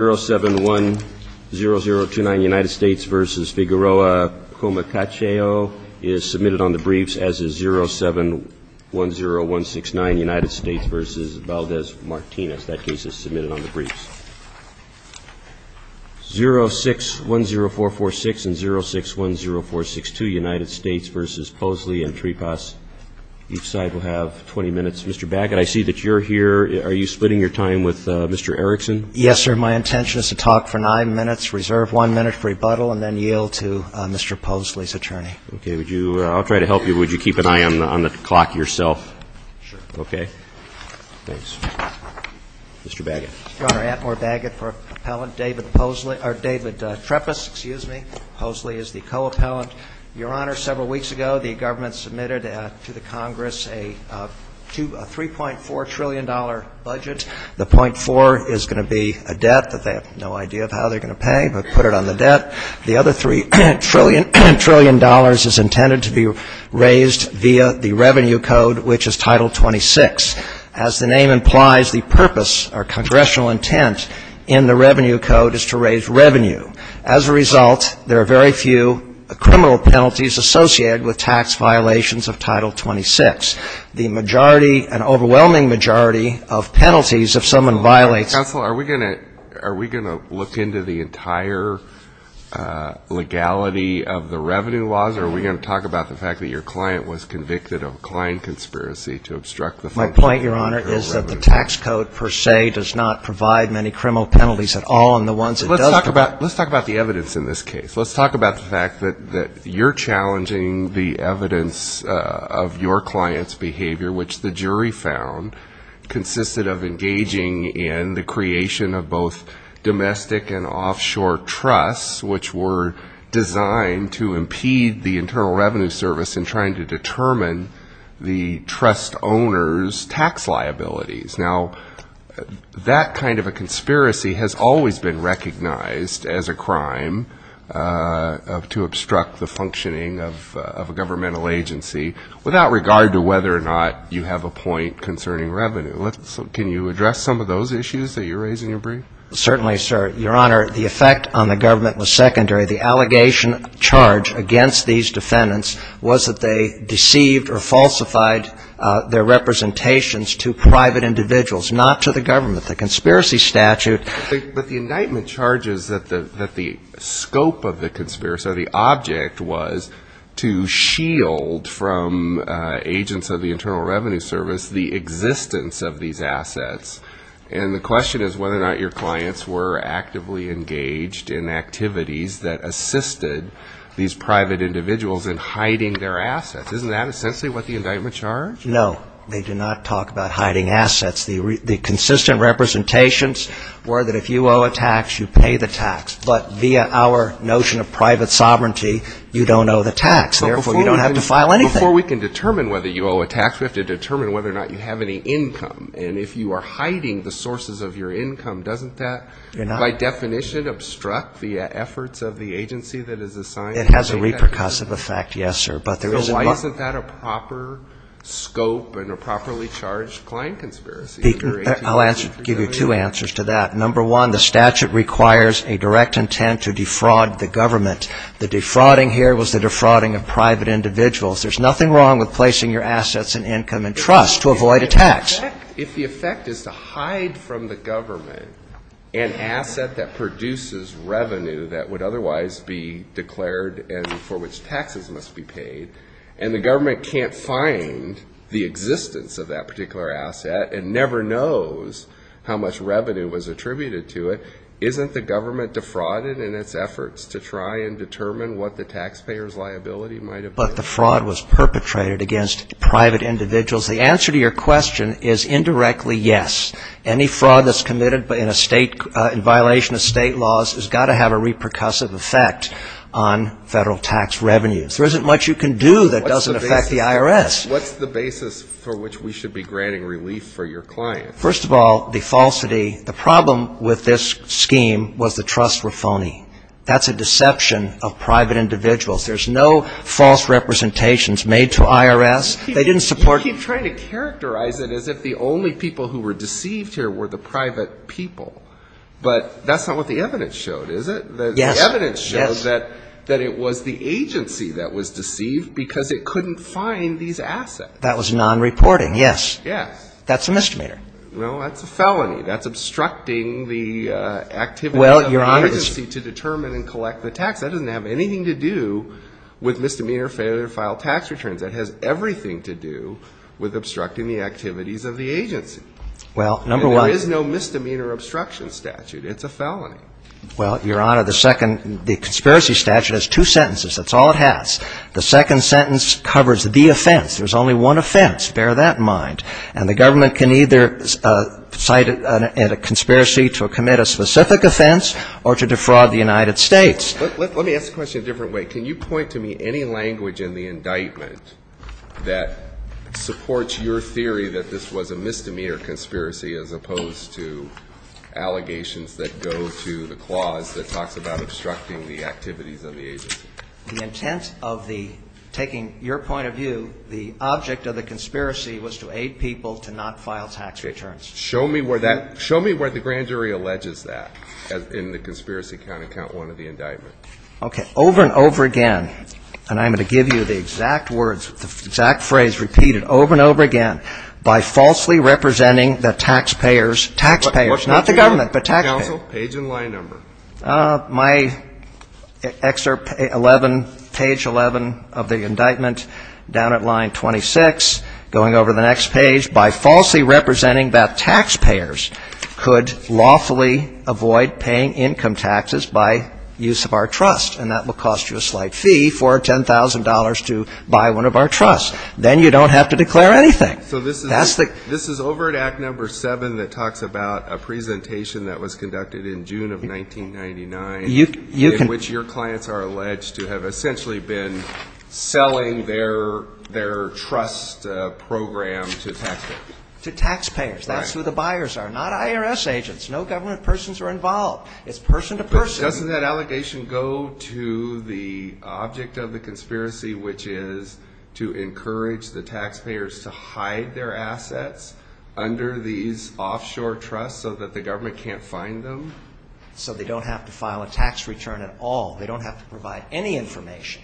0710029 United States v. Figueroa Comacacheo is submitted on the briefs as is 0710169 United States v. Valdez-Martinez. That case is submitted on the briefs. 0610446 and 0610462 United States v. Poseley and Tripas. Each side will have 20 minutes. Mr. Bagot, I see that you're here. Are you splitting your time with Mr. Erickson? Yes, sir. My intention is to talk for nine minutes, reserve one minute for rebuttal, and then yield to Mr. Poseley's attorney. Okay. Would you, I'll try to help you. Would you keep an eye on the clock yourself? Sure. Okay. Thanks. Mr. Bagot. Your Honor, Atmore Bagot for appellant. David Poseley, or David Tripas, excuse me. Poseley is the co-appellant. Your Honor, several weeks ago, the government submitted to the Congress a $3.4 trillion budget. The .4 is going to be a debt that they have no idea of how they're going to pay, but put it on the debt. The other $3 trillion is intended to be raised via the Revenue Code, which is Title 26. As the name implies, the purpose or congressional intent in the Revenue Code is to raise revenue. As a result, there are very few criminal penalties associated with tax violations of Title 26. The majority, an overwhelming majority of penalties if someone violates Counsel, are we going to look into the entire legality of the revenue laws, or are we going to talk about the fact that your client was convicted of a client conspiracy to obstruct the function of your revenue? My point, Your Honor, is that the tax code per se does not case. Let's talk about the fact that you're challenging the evidence of your client's behavior, which the jury found consisted of engaging in the creation of both domestic and offshore trusts, which were designed to impede the Internal Revenue Service in trying to determine the trust owner's tax liabilities. Now, that kind of a conspiracy has always been recognized as a crime to obstruct the functioning of a governmental agency, without regard to whether or not you have a point concerning revenue. Can you address some of those issues that you raise in your brief? Certainly, sir. Your Honor, the effect on the government was secondary. The allegation charged against these defendants was that they deceived or falsified their representations to private individuals, not to the government. But the indictment charges that the scope of the conspiracy, or the object, was to shield from agents of the Internal Revenue Service the existence of these assets. And the question is whether or not your clients were actively engaged in activities that assisted these private individuals in hiding their assets. Isn't that essentially what the indictment charge? No. They did not talk about hiding assets. The consistent representations were that if you owe a tax, you pay the tax. But via our notion of private sovereignty, you don't owe the tax. Therefore, you don't have to file anything. Before we can determine whether you owe a tax, we have to determine whether or not you have any income. And if you are hiding the sources of your income, doesn't that by definition obstruct the efforts of the agency that is assigned to you? It has a repercussive effect, yes, sir. But there is no scope in a properly charged client conspiracy under 1853. I'll give you two answers to that. Number one, the statute requires a direct intent to defraud the government. The defrauding here was the defrauding of private individuals. There's nothing wrong with placing your assets and income in trust to avoid a tax. If the effect is to hide from the government an asset that produces revenue that would otherwise be declared and for which taxes must be paid, and the government can't find the existence of that particular asset and never knows how much revenue was attributed to it, isn't the government defrauded in its efforts to try and determine what the taxpayer's liability might have been? But the fraud was perpetrated against private individuals. The answer to your question is indirectly yes. Any fraud that's committed in a state, in violation of state laws has got to have a repercussive effect on federal tax revenues. There isn't much you can do that doesn't affect the IRS. What's the basis for which we should be granting relief for your client? First of all, the falsity, the problem with this scheme was the trusts were phony. That's a deception of private individuals. There's no false representations made to IRS. They didn't support them. You keep trying to characterize it as if the only people who were deceived here were the evidence shows that it was the agency that was deceived because it couldn't find these assets. That was non-reporting, yes. Yes. That's a misdemeanor. Well, that's a felony. That's obstructing the activities of the agency to determine and collect the tax. That doesn't have anything to do with misdemeanor, failure to file tax returns. That has everything to do with obstructing the activities of the agency. Well, number one… There is no misdemeanor obstruction statute. It's a felony. Well, Your Honor, the second… the conspiracy statute has two sentences. That's all it has. The second sentence covers the offense. There's only one offense. Bear that in mind. And the government can either cite a conspiracy to commit a specific offense or to defraud the United States. Let me ask the question a different way. Can you point to me any language in the indictment that supports your theory that this was a misdemeanor conspiracy as opposed to allegations that go to the clause that talks about obstructing the activities of the agency? The intent of the… taking your point of view, the object of the conspiracy was to aid people to not file tax returns. Show me where that… show me where the grand jury alleges that in the conspiracy count, in count one of the indictment. Okay. Over and over again, and I'm going to give you the exact words, the exact phrase repeated over and over again, by falsely representing the taxpayers… taxpayers, not the government but taxpayers. Counsel, page and line number. My excerpt 11, page 11 of the indictment, down at line 26, going over the next page, by falsely representing that taxpayers could lawfully avoid paying income taxes by use of our trust. And that will cost you a slight fee for $10,000 to buy one of our trusts. Then you don't have to declare anything. So this is over at Act No. 7 that talks about a presentation that was conducted in June of 1999, in which your clients are alleged to have essentially been selling their… their trust program to taxpayers. To taxpayers. That's who the buyers are. Not IRS agents. No government persons are involved. It's person to person. But doesn't that allegation go to the object of the conspiracy, which is to encourage the government to hide their assets under these offshore trusts so that the government can't find them? So they don't have to file a tax return at all. They don't have to provide any information.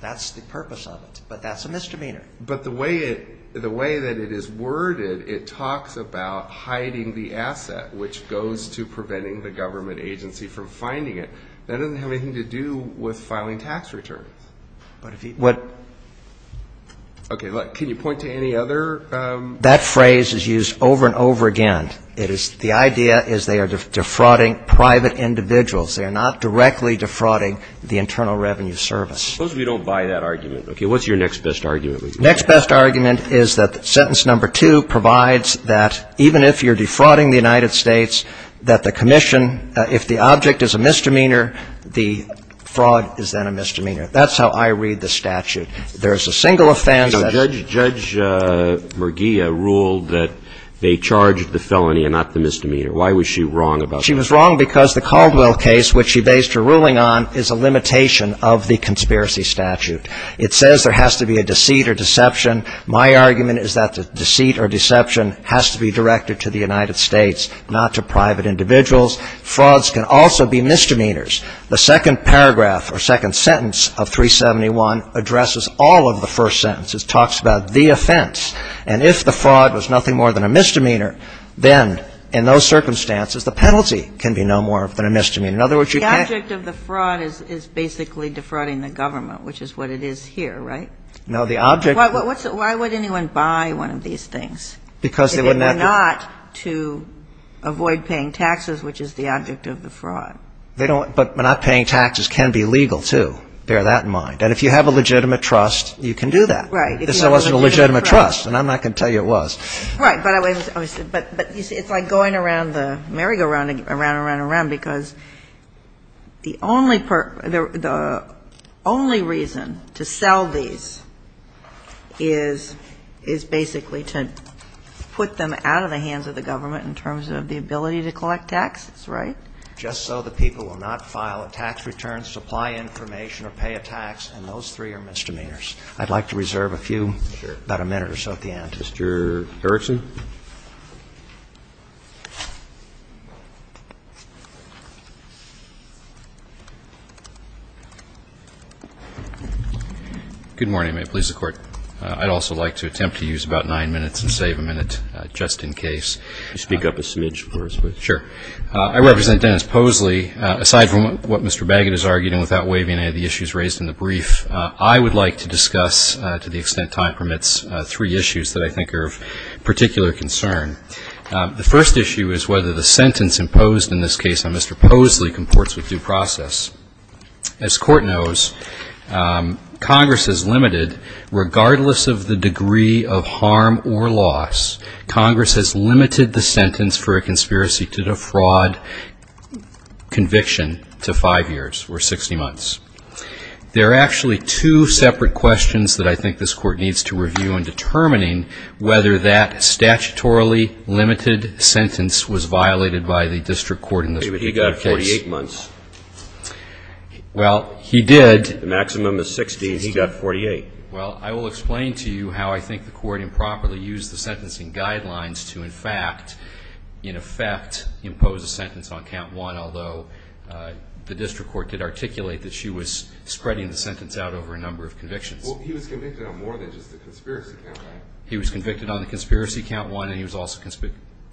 That's the purpose of it. But that's a misdemeanor. But the way it… the way that it is worded, it talks about hiding the asset, which goes to preventing the government agency from finding it. That doesn't have anything to do with filing tax returns. But if you… what… Okay. Can you point to any other… That phrase is used over and over again. It is… the idea is they are defrauding private individuals. They are not directly defrauding the Internal Revenue Service. Suppose we don't buy that argument. Okay. What's your next best argument? Next best argument is that sentence No. 2 provides that even if you're defrauding the United States, that the commission… if the object is a misdemeanor, the fraud is then a misdemeanor. That's how I read the statute. There's a single offense… Now, Judge Merguia ruled that they charged the felony and not the misdemeanor. Why was she wrong about… She was wrong because the Caldwell case, which she based her ruling on, is a limitation of the conspiracy statute. It says there has to be a deceit or deception. My argument is that the deceit or deception has to be directed to the United States, not to private individuals. Frauds can also be misdemeanors. The second paragraph or second sentence of 371 addresses all of the first sentences. It talks about the offense. And if the fraud was nothing more than a misdemeanor, then in those circumstances, the penalty can be no more than a misdemeanor. In other words, you can't… The object of the fraud is basically defrauding the government, which is what it is here, right? No. The object… Why would anyone buy one of these things… Because they wouldn't have to… They wouldn't have to avoid paying taxes, which is the object of the fraud. They don't… But not paying taxes can be legal, too. Bear that in mind. And if you have a legitimate trust, you can do that. Right. This wasn't a legitimate trust, and I'm not going to tell you it was. Right. But I was… But you see, it's like going around the merry-go-round again, around and around and around, because the only… the only reason to sell these things is basically to put them out of the hands of the government in terms of the ability to collect taxes, right? Just so the people will not file a tax return, supply information, or pay a tax, and those three are misdemeanors. I'd like to reserve a few… Sure. About a minute or so at the end. Mr. Erickson? Good morning. May it please the Court? I'd also like to attempt to use about nine minutes and save a minute, just in case. Could you speak up a smidge for us, please? Sure. I represent Dennis Posley. Aside from what Mr. Bagot has argued, and without waiving any of the issues raised in the brief, I would like to discuss, to the extent time permits, three issues that I think are of particular concern. The first issue is whether the sentence imposed in this case on Mr. Posley comports with due process. As Court knows, Congress has limited, regardless of the degree of harm or loss, Congress has limited the sentence for a conspiracy to defraud conviction to five years, or 60 months. There are actually two separate questions that I think this Court needs to review in determining whether that statutorily limited sentence was violated by the district court in this particular case. He got 48 months. Well, he did. The maximum is 60, and he got 48. Well, I will explain to you how I think the Court improperly used the sentencing guidelines to in fact, in effect, impose a sentence on count one, although the district court did say that she was spreading the sentence out over a number of convictions. Well, he was convicted on more than just the conspiracy count, right? He was convicted on the conspiracy count one, and he was also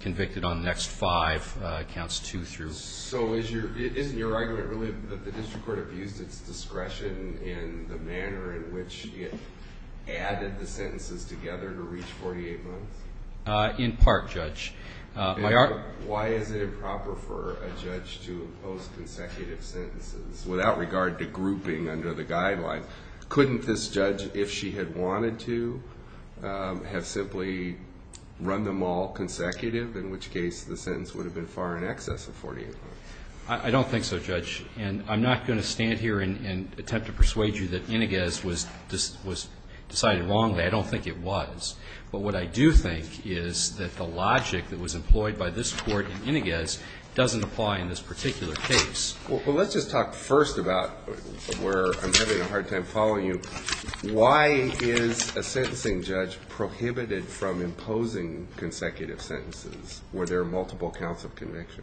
convicted on the next five counts, two through. So, isn't your argument really that the district court abused its discretion in the manner in which it added the sentences together to reach 48 months? In part, Judge. Why is it improper for a judge to impose consecutive sentences without regard to grouping under the guidelines? Couldn't this judge, if she had wanted to, have simply run them all consecutive, in which case the sentence would have been far in excess of 48 months? I don't think so, Judge. And I'm not going to stand here and attempt to persuade you that Iniguez was decided wrongly. I don't think it was. But what I do think is that the logic that was employed by this court in Iniguez doesn't apply in this particular case. Well, let's just talk first about where I'm having a hard time following you. Why is a sentencing judge prohibited from imposing consecutive sentences where there are multiple counts of conviction?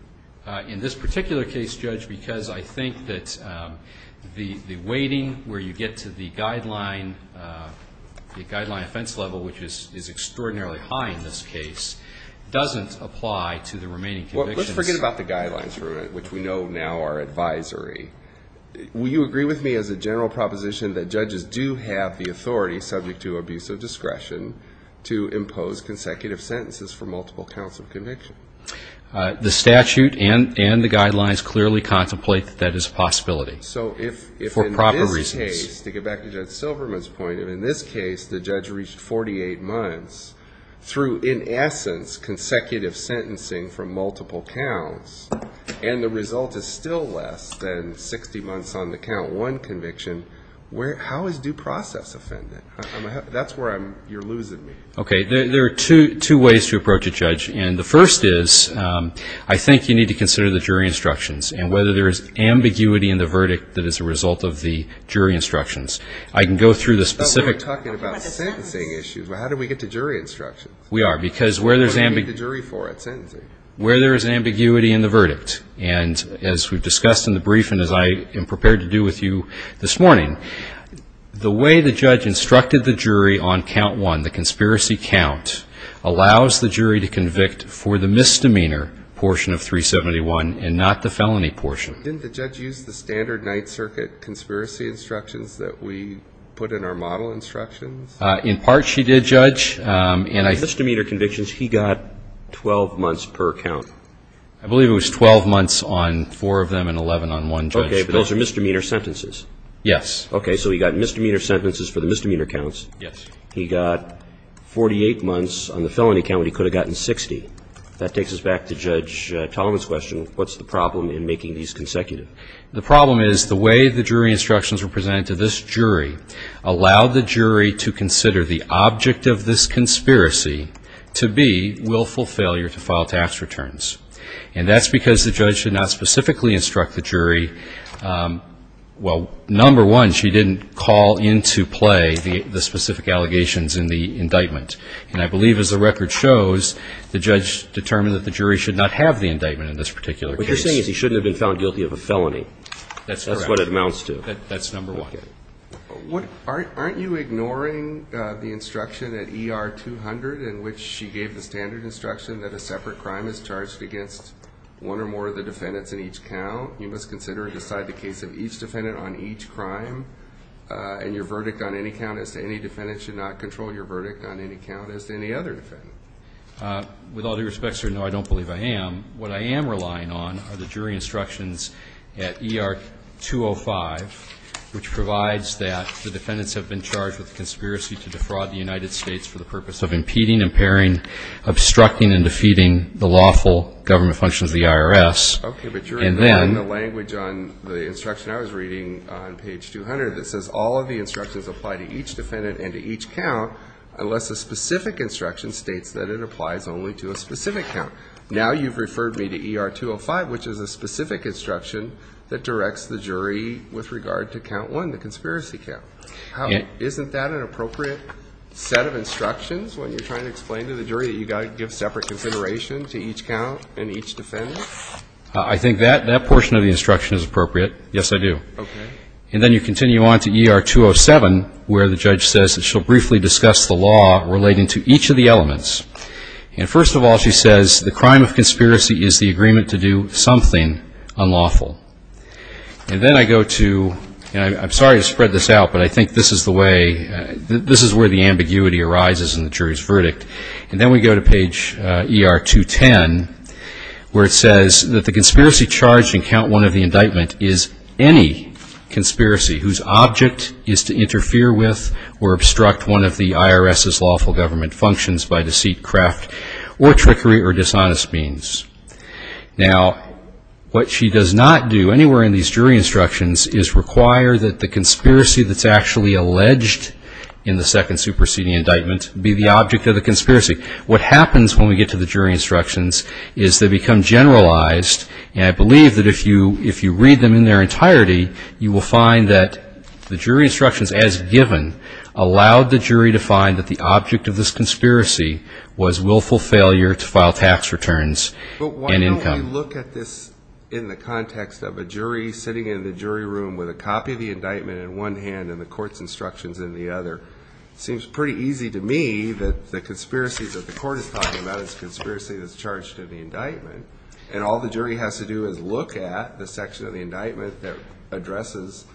In this particular case, Judge, because I think that the weighting where you get to the guideline offense level, which is extraordinarily high in this case, doesn't apply to the remaining convictions. Well, let's forget about the guidelines for a minute, which we know now are advisory. Will you agree with me as a general proposition that judges do have the authority, subject to abuse of discretion, to impose consecutive sentences for multiple counts of conviction? The statute and the guidelines clearly contemplate that that is a possibility for proper reasons. In this case, to get back to Judge Silverman's point, in this case the judge reached 48 months through, in essence, consecutive sentencing for multiple counts. And the result is still less than 60 months on the count one conviction. How is due process offended? That's where you're losing me. Okay. There are two ways to approach a judge. And the first is I think you need to consider the jury instructions. And whether there is ambiguity in the verdict that is a result of the jury instructions. I can go through the specific... But we're talking about sentencing issues. How do we get to jury instructions? We are. Because where there's... What do we get the jury for at sentencing? Where there is ambiguity in the verdict. And as we've discussed in the briefing, as I am prepared to do with you this morning, the way the judge instructed the jury on count one, the conspiracy count, allows the jury to convict for the misdemeanor portion of 371 and not the felony portion. Didn't the judge use the standard Ninth Circuit conspiracy instructions that we put in our model instructions? In part she did, Judge. And I... Misdemeanor convictions, he got 12 months per count. I believe it was 12 months on four of them and 11 on one judge. Okay. But those are misdemeanor sentences. Yes. Okay. So he got misdemeanor sentences for the misdemeanor counts. Yes. He got 48 months on the felony count when he could have gotten 60. That takes us back to Judge Tallman's question, what's the problem in making these consecutive? The problem is the way the jury instructions were presented to this jury allowed the jury to consider the object of this conspiracy to be willful failure to file tax returns. And that's because the judge did not specifically instruct the jury, well, number one, she didn't call into play the specific allegations in the indictment. And I believe as the record shows, the judge determined that the jury should not have the indictment in this particular case. What you're saying is he shouldn't have been found guilty of a felony. That's correct. That's what it amounts to. That's number one. Okay. Aren't you ignoring the instruction at ER 200 in which she gave the standard instruction that a separate crime is charged against one or more of the defendants in each count? You must consider and decide the case of each defendant on each crime. And your verdict on any count as to any defendant should not control your verdict on any count as to any other defendant. With all due respect, sir, no, I don't believe I am. What I am relying on are the jury instructions at ER 205, which provides that the defendants have been charged with conspiracy to defraud the United States for the purpose of impeding, impairing, obstructing, and defeating the lawful government functions of the IRS. Okay, but you're ignoring the language on the instruction I was reading on page 200 that says all of the instructions apply to each defendant and to each count unless a specific instruction states that it applies only to a specific count. Now you've referred me to ER 205, which is a specific instruction that directs the jury with regard to count one, the conspiracy count. Isn't that an appropriate set of instructions when you're trying to explain to the jury that you've got to give separate consideration to each count and each defendant? I think that portion of the instruction is appropriate. Yes, I do. Okay. And then you continue on to ER 207, where the judge says that she'll briefly discuss the law relating to each of the elements. And first of all, she says the crime of conspiracy is the agreement to do something unlawful. And then I go to, and I'm sorry to spread this out, but I think this is the way, this is where the ambiguity arises in the jury's verdict. And then we go to page ER 210, where it says that the conspiracy charged in count one of the indictment is any conspiracy whose object is to interfere with or obstruct one of the IRS's lawful government functions by deceit, craft, or trickery or dishonest means. Now, what she does not do anywhere in these jury instructions is require that the conspiracy that's actually alleged in the second superseding indictment be the object of the conspiracy. What happens when we get to the jury instructions is they become generalized. And I believe that if you read them in their entirety, you will find that the jury instructions as given allowed the jury to find that the object of this conspiracy was willful failure to file tax returns and income. But why don't we look at this in the context of a jury sitting in the jury room with a one hand and the court's instructions in the other? It seems pretty easy to me that the conspiracy that the court is talking about is a conspiracy that's charged in the indictment. And all the jury has to do is look at the section of the indictment that addresses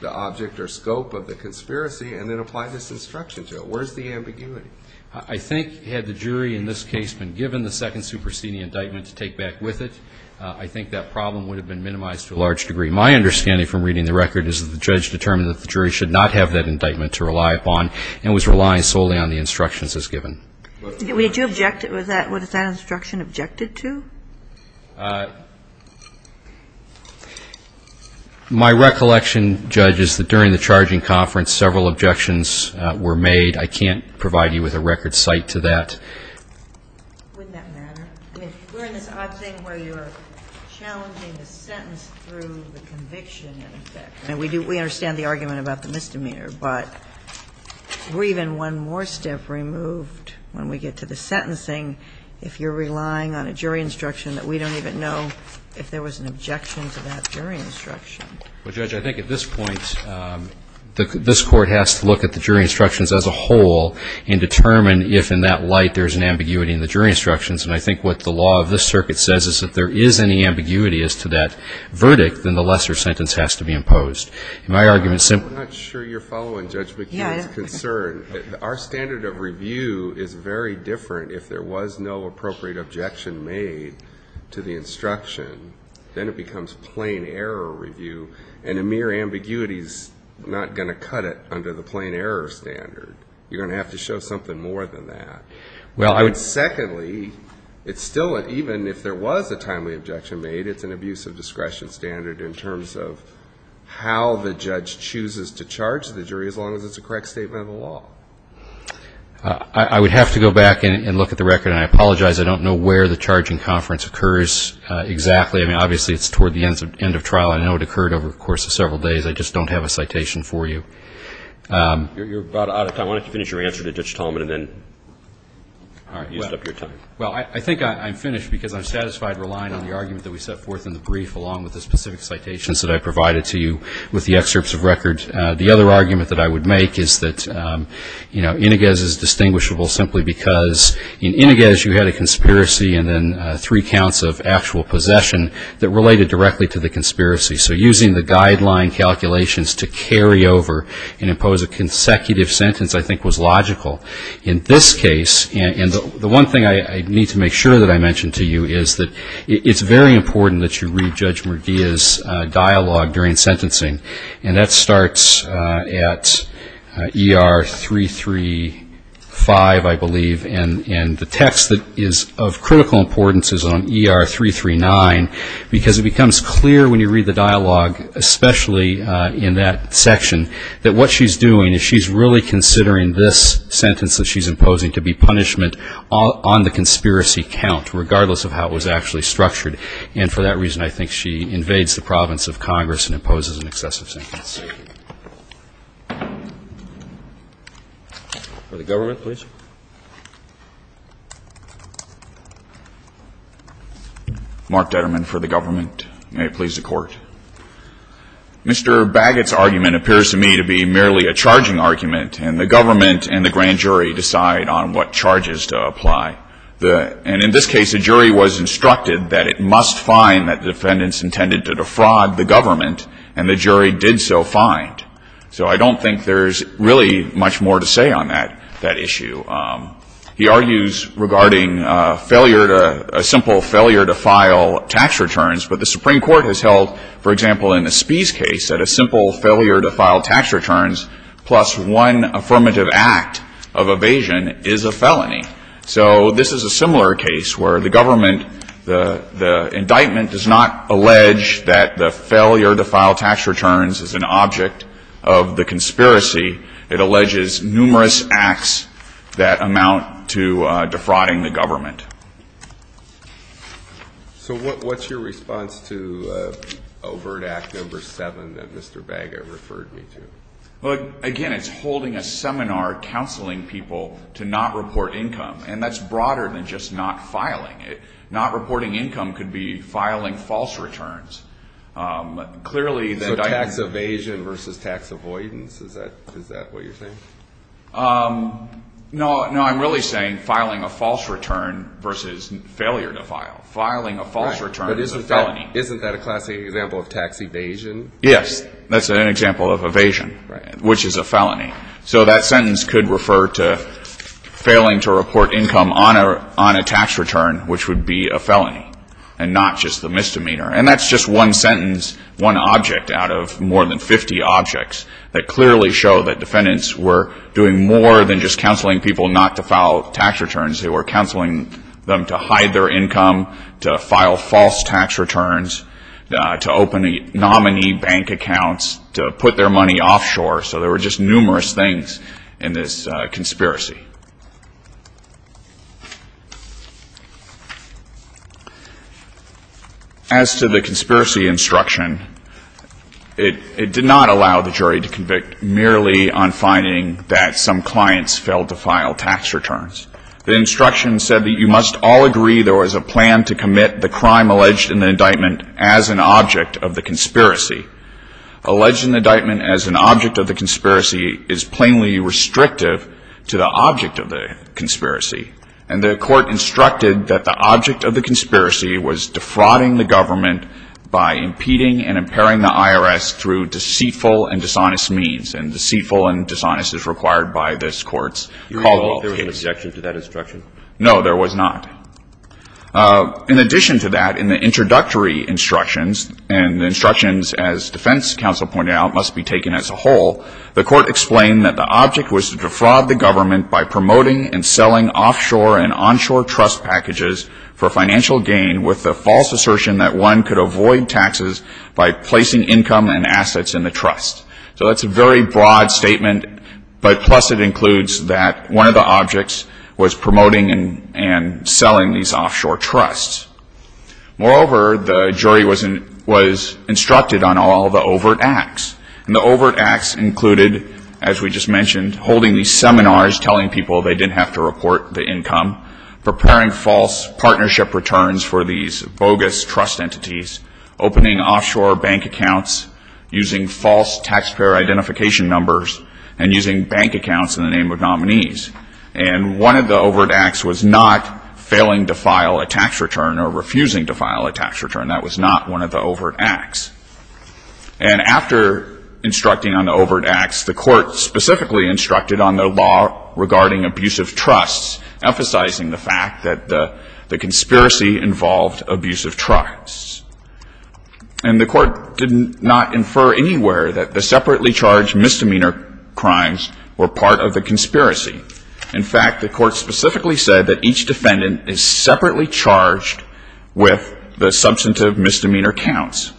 the object or scope of the conspiracy and then apply this instruction to it. Where's the ambiguity? I think had the jury in this case been given the second superseding indictment to take back with it, I think that problem would have been minimized to a large degree. My understanding from reading the record is that the judge determined that the jury should not have that indictment to rely upon and was relying solely on the instructions as given. What is that instruction objected to? My recollection, Judge, is that during the charging conference, several objections were made. I can't provide you with a record cite to that. Wouldn't that matter? We're in this odd thing where you're challenging the sentence through the conviction in effect. We understand the argument about the misdemeanor, but we're even one more step removed when we get to the sentencing if you're relying on a jury instruction that we don't even know if there was an objection to that jury instruction. Well, Judge, I think at this point, this court has to look at the jury instructions as a whole and determine if in that light there's an ambiguity in the jury instructions. And I think what the law of this circuit says is that if there is any ambiguity as to that verdict, then the lesser sentence has to be imposed. My argument is simple. I'm not sure you're following Judge McKeon's concern. Our standard of review is very different if there was no appropriate objection made to the instruction. Then it becomes plain error review. And a mere ambiguity is not going to cut it under the plain error standard. You're going to have to show something more than that. Secondly, even if there was a timely objection made, it's an abuse of discretion standard in terms of how the judge chooses to charge the jury as long as it's a correct statement of the law. I would have to go back and look at the record. And I apologize, I don't know where the charging conference occurs exactly. Obviously, it's toward the end of trial. I know it occurred over the course of several days. I just don't have a citation for you. You're about out of time. Why don't you finish your answer to Judge Tolman and then use up your time. Well, I think I'm finished because I'm satisfied relying on the argument that we set forth in the brief along with the specific citations that I provided to you with the excerpts of record. The other argument that I would make is that, you know, Inoges is distinguishable simply because in Inoges, you had a conspiracy and then three counts of actual possession that related directly to the conspiracy. So using the guideline calculations to carry over and impose a consecutive sentence I think was logical. In this case, and the one thing I need to make sure that I mention to you is that it's very important that you read Judge Murdia's dialogue during sentencing. And that starts at ER 335, I believe. And the text that is of critical importance is on ER 339 because it becomes clear when you read the dialogue especially in that section that what she's doing is she's really considering this sentence that she's imposing to be punishment on the conspiracy count regardless of how it was actually structured. And for that reason, I think she invades the province of Congress For the government, please. Mark Detterman for the government. May it please the court. Mr. Baggett's argument appears to me to be merely a charging argument and the government and the grand jury decide on what charges to apply. And in this case, the jury was instructed that it must find that the defendants intended to defraud the government and the jury did so find. So I don't think there's really much more to say on that issue. He argues regarding failure to a simple failure to file tax returns but the Supreme Court has held, for example, in the Spies case that a simple failure to file tax returns plus one affirmative act of evasion is a felony. So this is a similar case where the government the indictment does not allege that the failure to file tax returns is an object of the conspiracy it alleges numerous acts that amount to defrauding the government. So what's your response to overt act number 7 that Mr. Baggett referred me to? Again, it's holding a seminar counseling people to not report income and that's broader than just not filing. Not reporting income could be filing false returns. So tax evasion versus tax avoidance? Is that what you're saying? No, I'm really saying filing a false return versus failure to file. Isn't that a classic example of tax evasion? Yes, that's an example of evasion, which is a felony. So that sentence could refer to failing to report income on a tax return which would be a felony and not just the misdemeanor. And that's just one sentence, one object out of more than 50 objects that clearly show that defendants were doing more than just counseling people not to file tax returns. They were counseling them to hide their income, to file false tax returns, to open nominee bank accounts, to put their money offshore. So there were just numerous things in this conspiracy. As to the conspiracy instruction, it did not allow the jury to convict merely on finding that some clients failed to file tax returns. The instruction said that you must all agree there was a plan to commit the crime alleged in the indictment as an object of the conspiracy. Alleged in the indictment as an object of the conspiracy is plainly restrictive to the object of the conspiracy. And the Court instructed that the object of the conspiracy was defrauding the government by impeding and impairing the IRS through deceitful and dishonest means. And deceitful and dishonest is required by this Court's call to all cases. You recall if there was an objection to that instruction? No, there was not. In addition to that, in the introductory instructions, and the instructions, as defense counsel pointed out, must be taken as a whole, the Court explained that the object was to defraud the government by promoting and selling offshore and onshore trust packages for financial gain, with the false assertion that one could avoid taxes by placing income and assets in the trust. So that's a very broad statement, but plus it includes that one of the objects was promoting and selling these offshore trusts. Moreover, the jury was instructed on all the overt acts. And the overt acts included, as we just mentioned, holding these seminars telling people they didn't have to report the income, preparing false partnership returns for these bogus trust entities, opening offshore bank accounts using false taxpayer identification numbers, and using bank accounts in the name of nominees. And one of the overt acts was not failing to file a tax return or refusing to file a tax return. That was not one of the overt acts. And after instructing on the overt acts, the Court specifically instructed on the law regarding abusive trusts, emphasizing the fact that the conspiracy involved abusive trusts. And the Court did not infer anywhere that the separately charged misdemeanor crimes were part of the conspiracy. In fact, the Court specifically said that each defendant is separately charged with the substantive misdemeanor counts.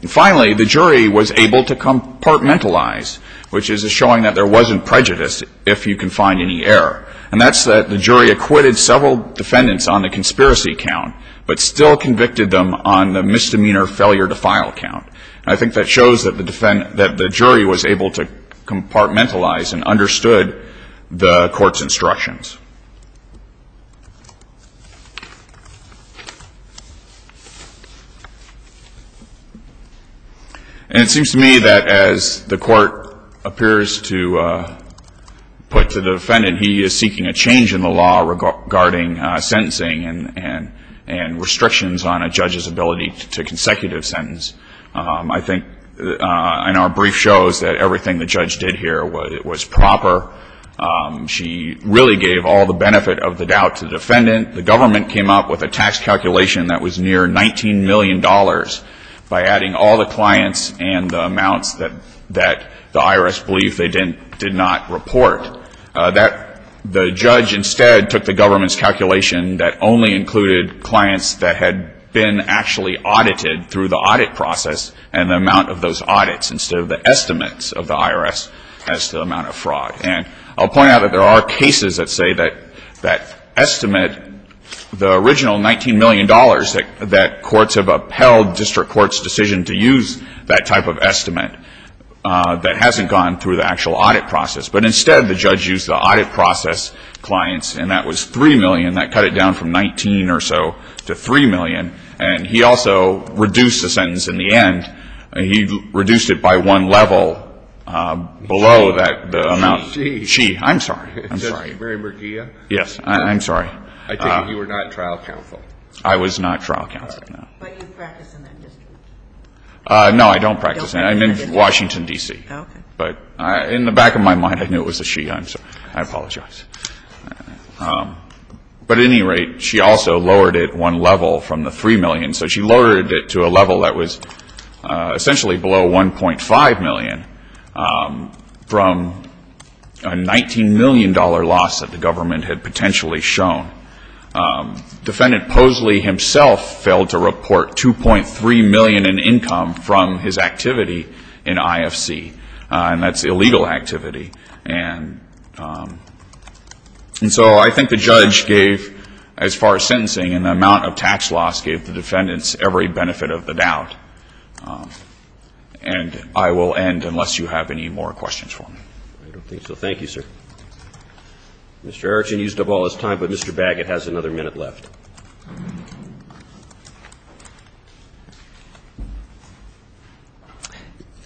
And finally, the jury was able to compartmentalize, which is a showing that there wasn't prejudice if you can find any error. And that's that the jury acquitted several defendants on the conspiracy count but still convicted them on the misdemeanor failure to file count. And I think that shows that the jury was able to compartmentalize and understood the Court's instructions. And it seems to me that as the Court appears to put to the defendant, he is seeking a change in the law regarding sentencing and restrictions on a judge's ability to consecutive sentence. I think in our brief shows that everything the judge did here was proper. She really gave all the benefit of the doubt to the defendant. The government came up with a tax calculation that was near $19 million by adding all the clients and the amounts that the IRS believed they did not report. The judge instead took the government's calculation that only included clients that had been actually audited through the audit process and the amount of those audits instead of the estimates of the IRS as to the amount of fraud. And I'll point out that there are cases that say that that estimate, the original $19 million that courts have upheld, district courts' decision to use that type of estimate that hasn't gone through the actual audit process. But instead, the judge used the audit process clients, and that was $3 million. That cut it down from $19 or so to $3 million. And he also reduced the sentence in the end. He reduced it by one level below that amount. She. She. I'm sorry. I'm sorry. Mary McGee? Yes. I'm sorry. I take it you were not trial counsel. I was not trial counsel. But you practice in that district. No, I don't practice. I'm in Washington, D.C. Okay. But in the back of my mind, I knew it was a she. I'm sorry. I apologize. But at any rate, she also lowered it one level from the $3 million. So she lowered it to a level that was essentially below $1.5 million from a $19 million loss that the government had potentially shown. Defendant Posley himself failed to report $2.3 million in income from his activity in IFC, and that's illegal activity. And so I think the judge gave, as far as sentencing, an amount of tax loss gave the defendants every benefit of the doubt. And I will end unless you have any more questions for me. I don't think so. Thank you, sir. Mr. Erickson used up all his time, but Mr. Baggett has another minute left.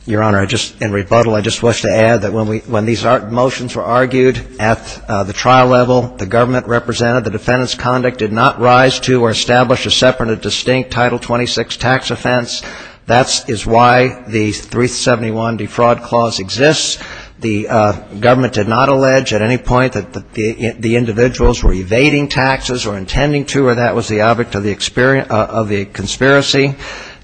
Your Honor, in rebuttal, I just wish to add that when these motions were argued at the trial level, the government represented, the defendant's conduct did not rise to or establish a separate or distinct Title 26 tax offense. That is why the 371 defraud clause exists. The government did not allege at any point that the individuals were evading taxes or intending to, or that was the object of the conspiracy.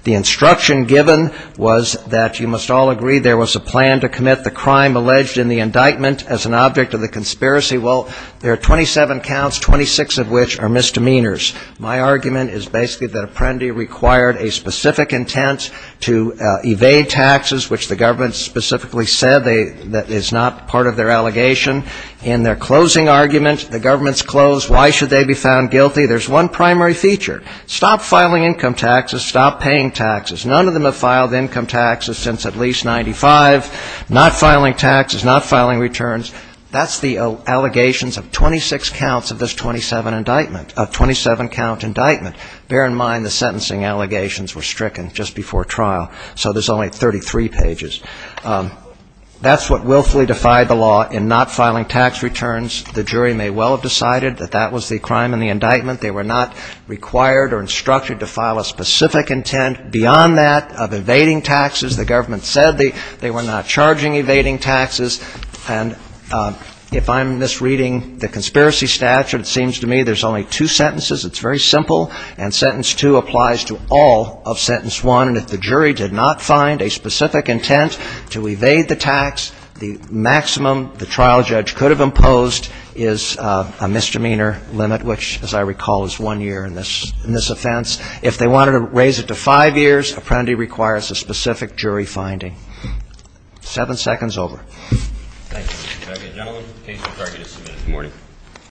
The instruction given was that, you must all agree, there was a plan to commit the crime alleged in the indictment as an object of the conspiracy. Well, there are 27 counts, 26 of which are misdemeanors. My argument is basically that Apprendi required a specific intent to evade taxes, which the government specifically said is not part of their allegation. In their closing argument, the government's close, why should they be found guilty? There's one primary feature. Stop filing income taxes. Stop paying taxes. None of them have filed income taxes since at least 95. Not filing taxes. Not filing returns. That's the allegations of 26 counts of this 27 indictment, a 27-count indictment. Bear in mind the sentencing allegations were stricken just before trial, so there's only 33 pages. That's what willfully defied the law in not filing tax returns. The jury may well have decided that that was the crime in the indictment. They were not required or instructed to file a specific intent beyond that of evading taxes. The government said they were not charging evading taxes. And if I'm misreading the conspiracy statute, it seems to me there's only two sentences. It's very simple. And sentence two applies to all of sentence one. And if the jury did not find a specific intent to evade the tax, the maximum the trial judge could have imposed is a misdemeanor limit, which, as I recall, is one year in this offense. If they wanted to raise it to five years, Apprendi requires a specific jury finding. Seven seconds, over. Thank you. Good morning.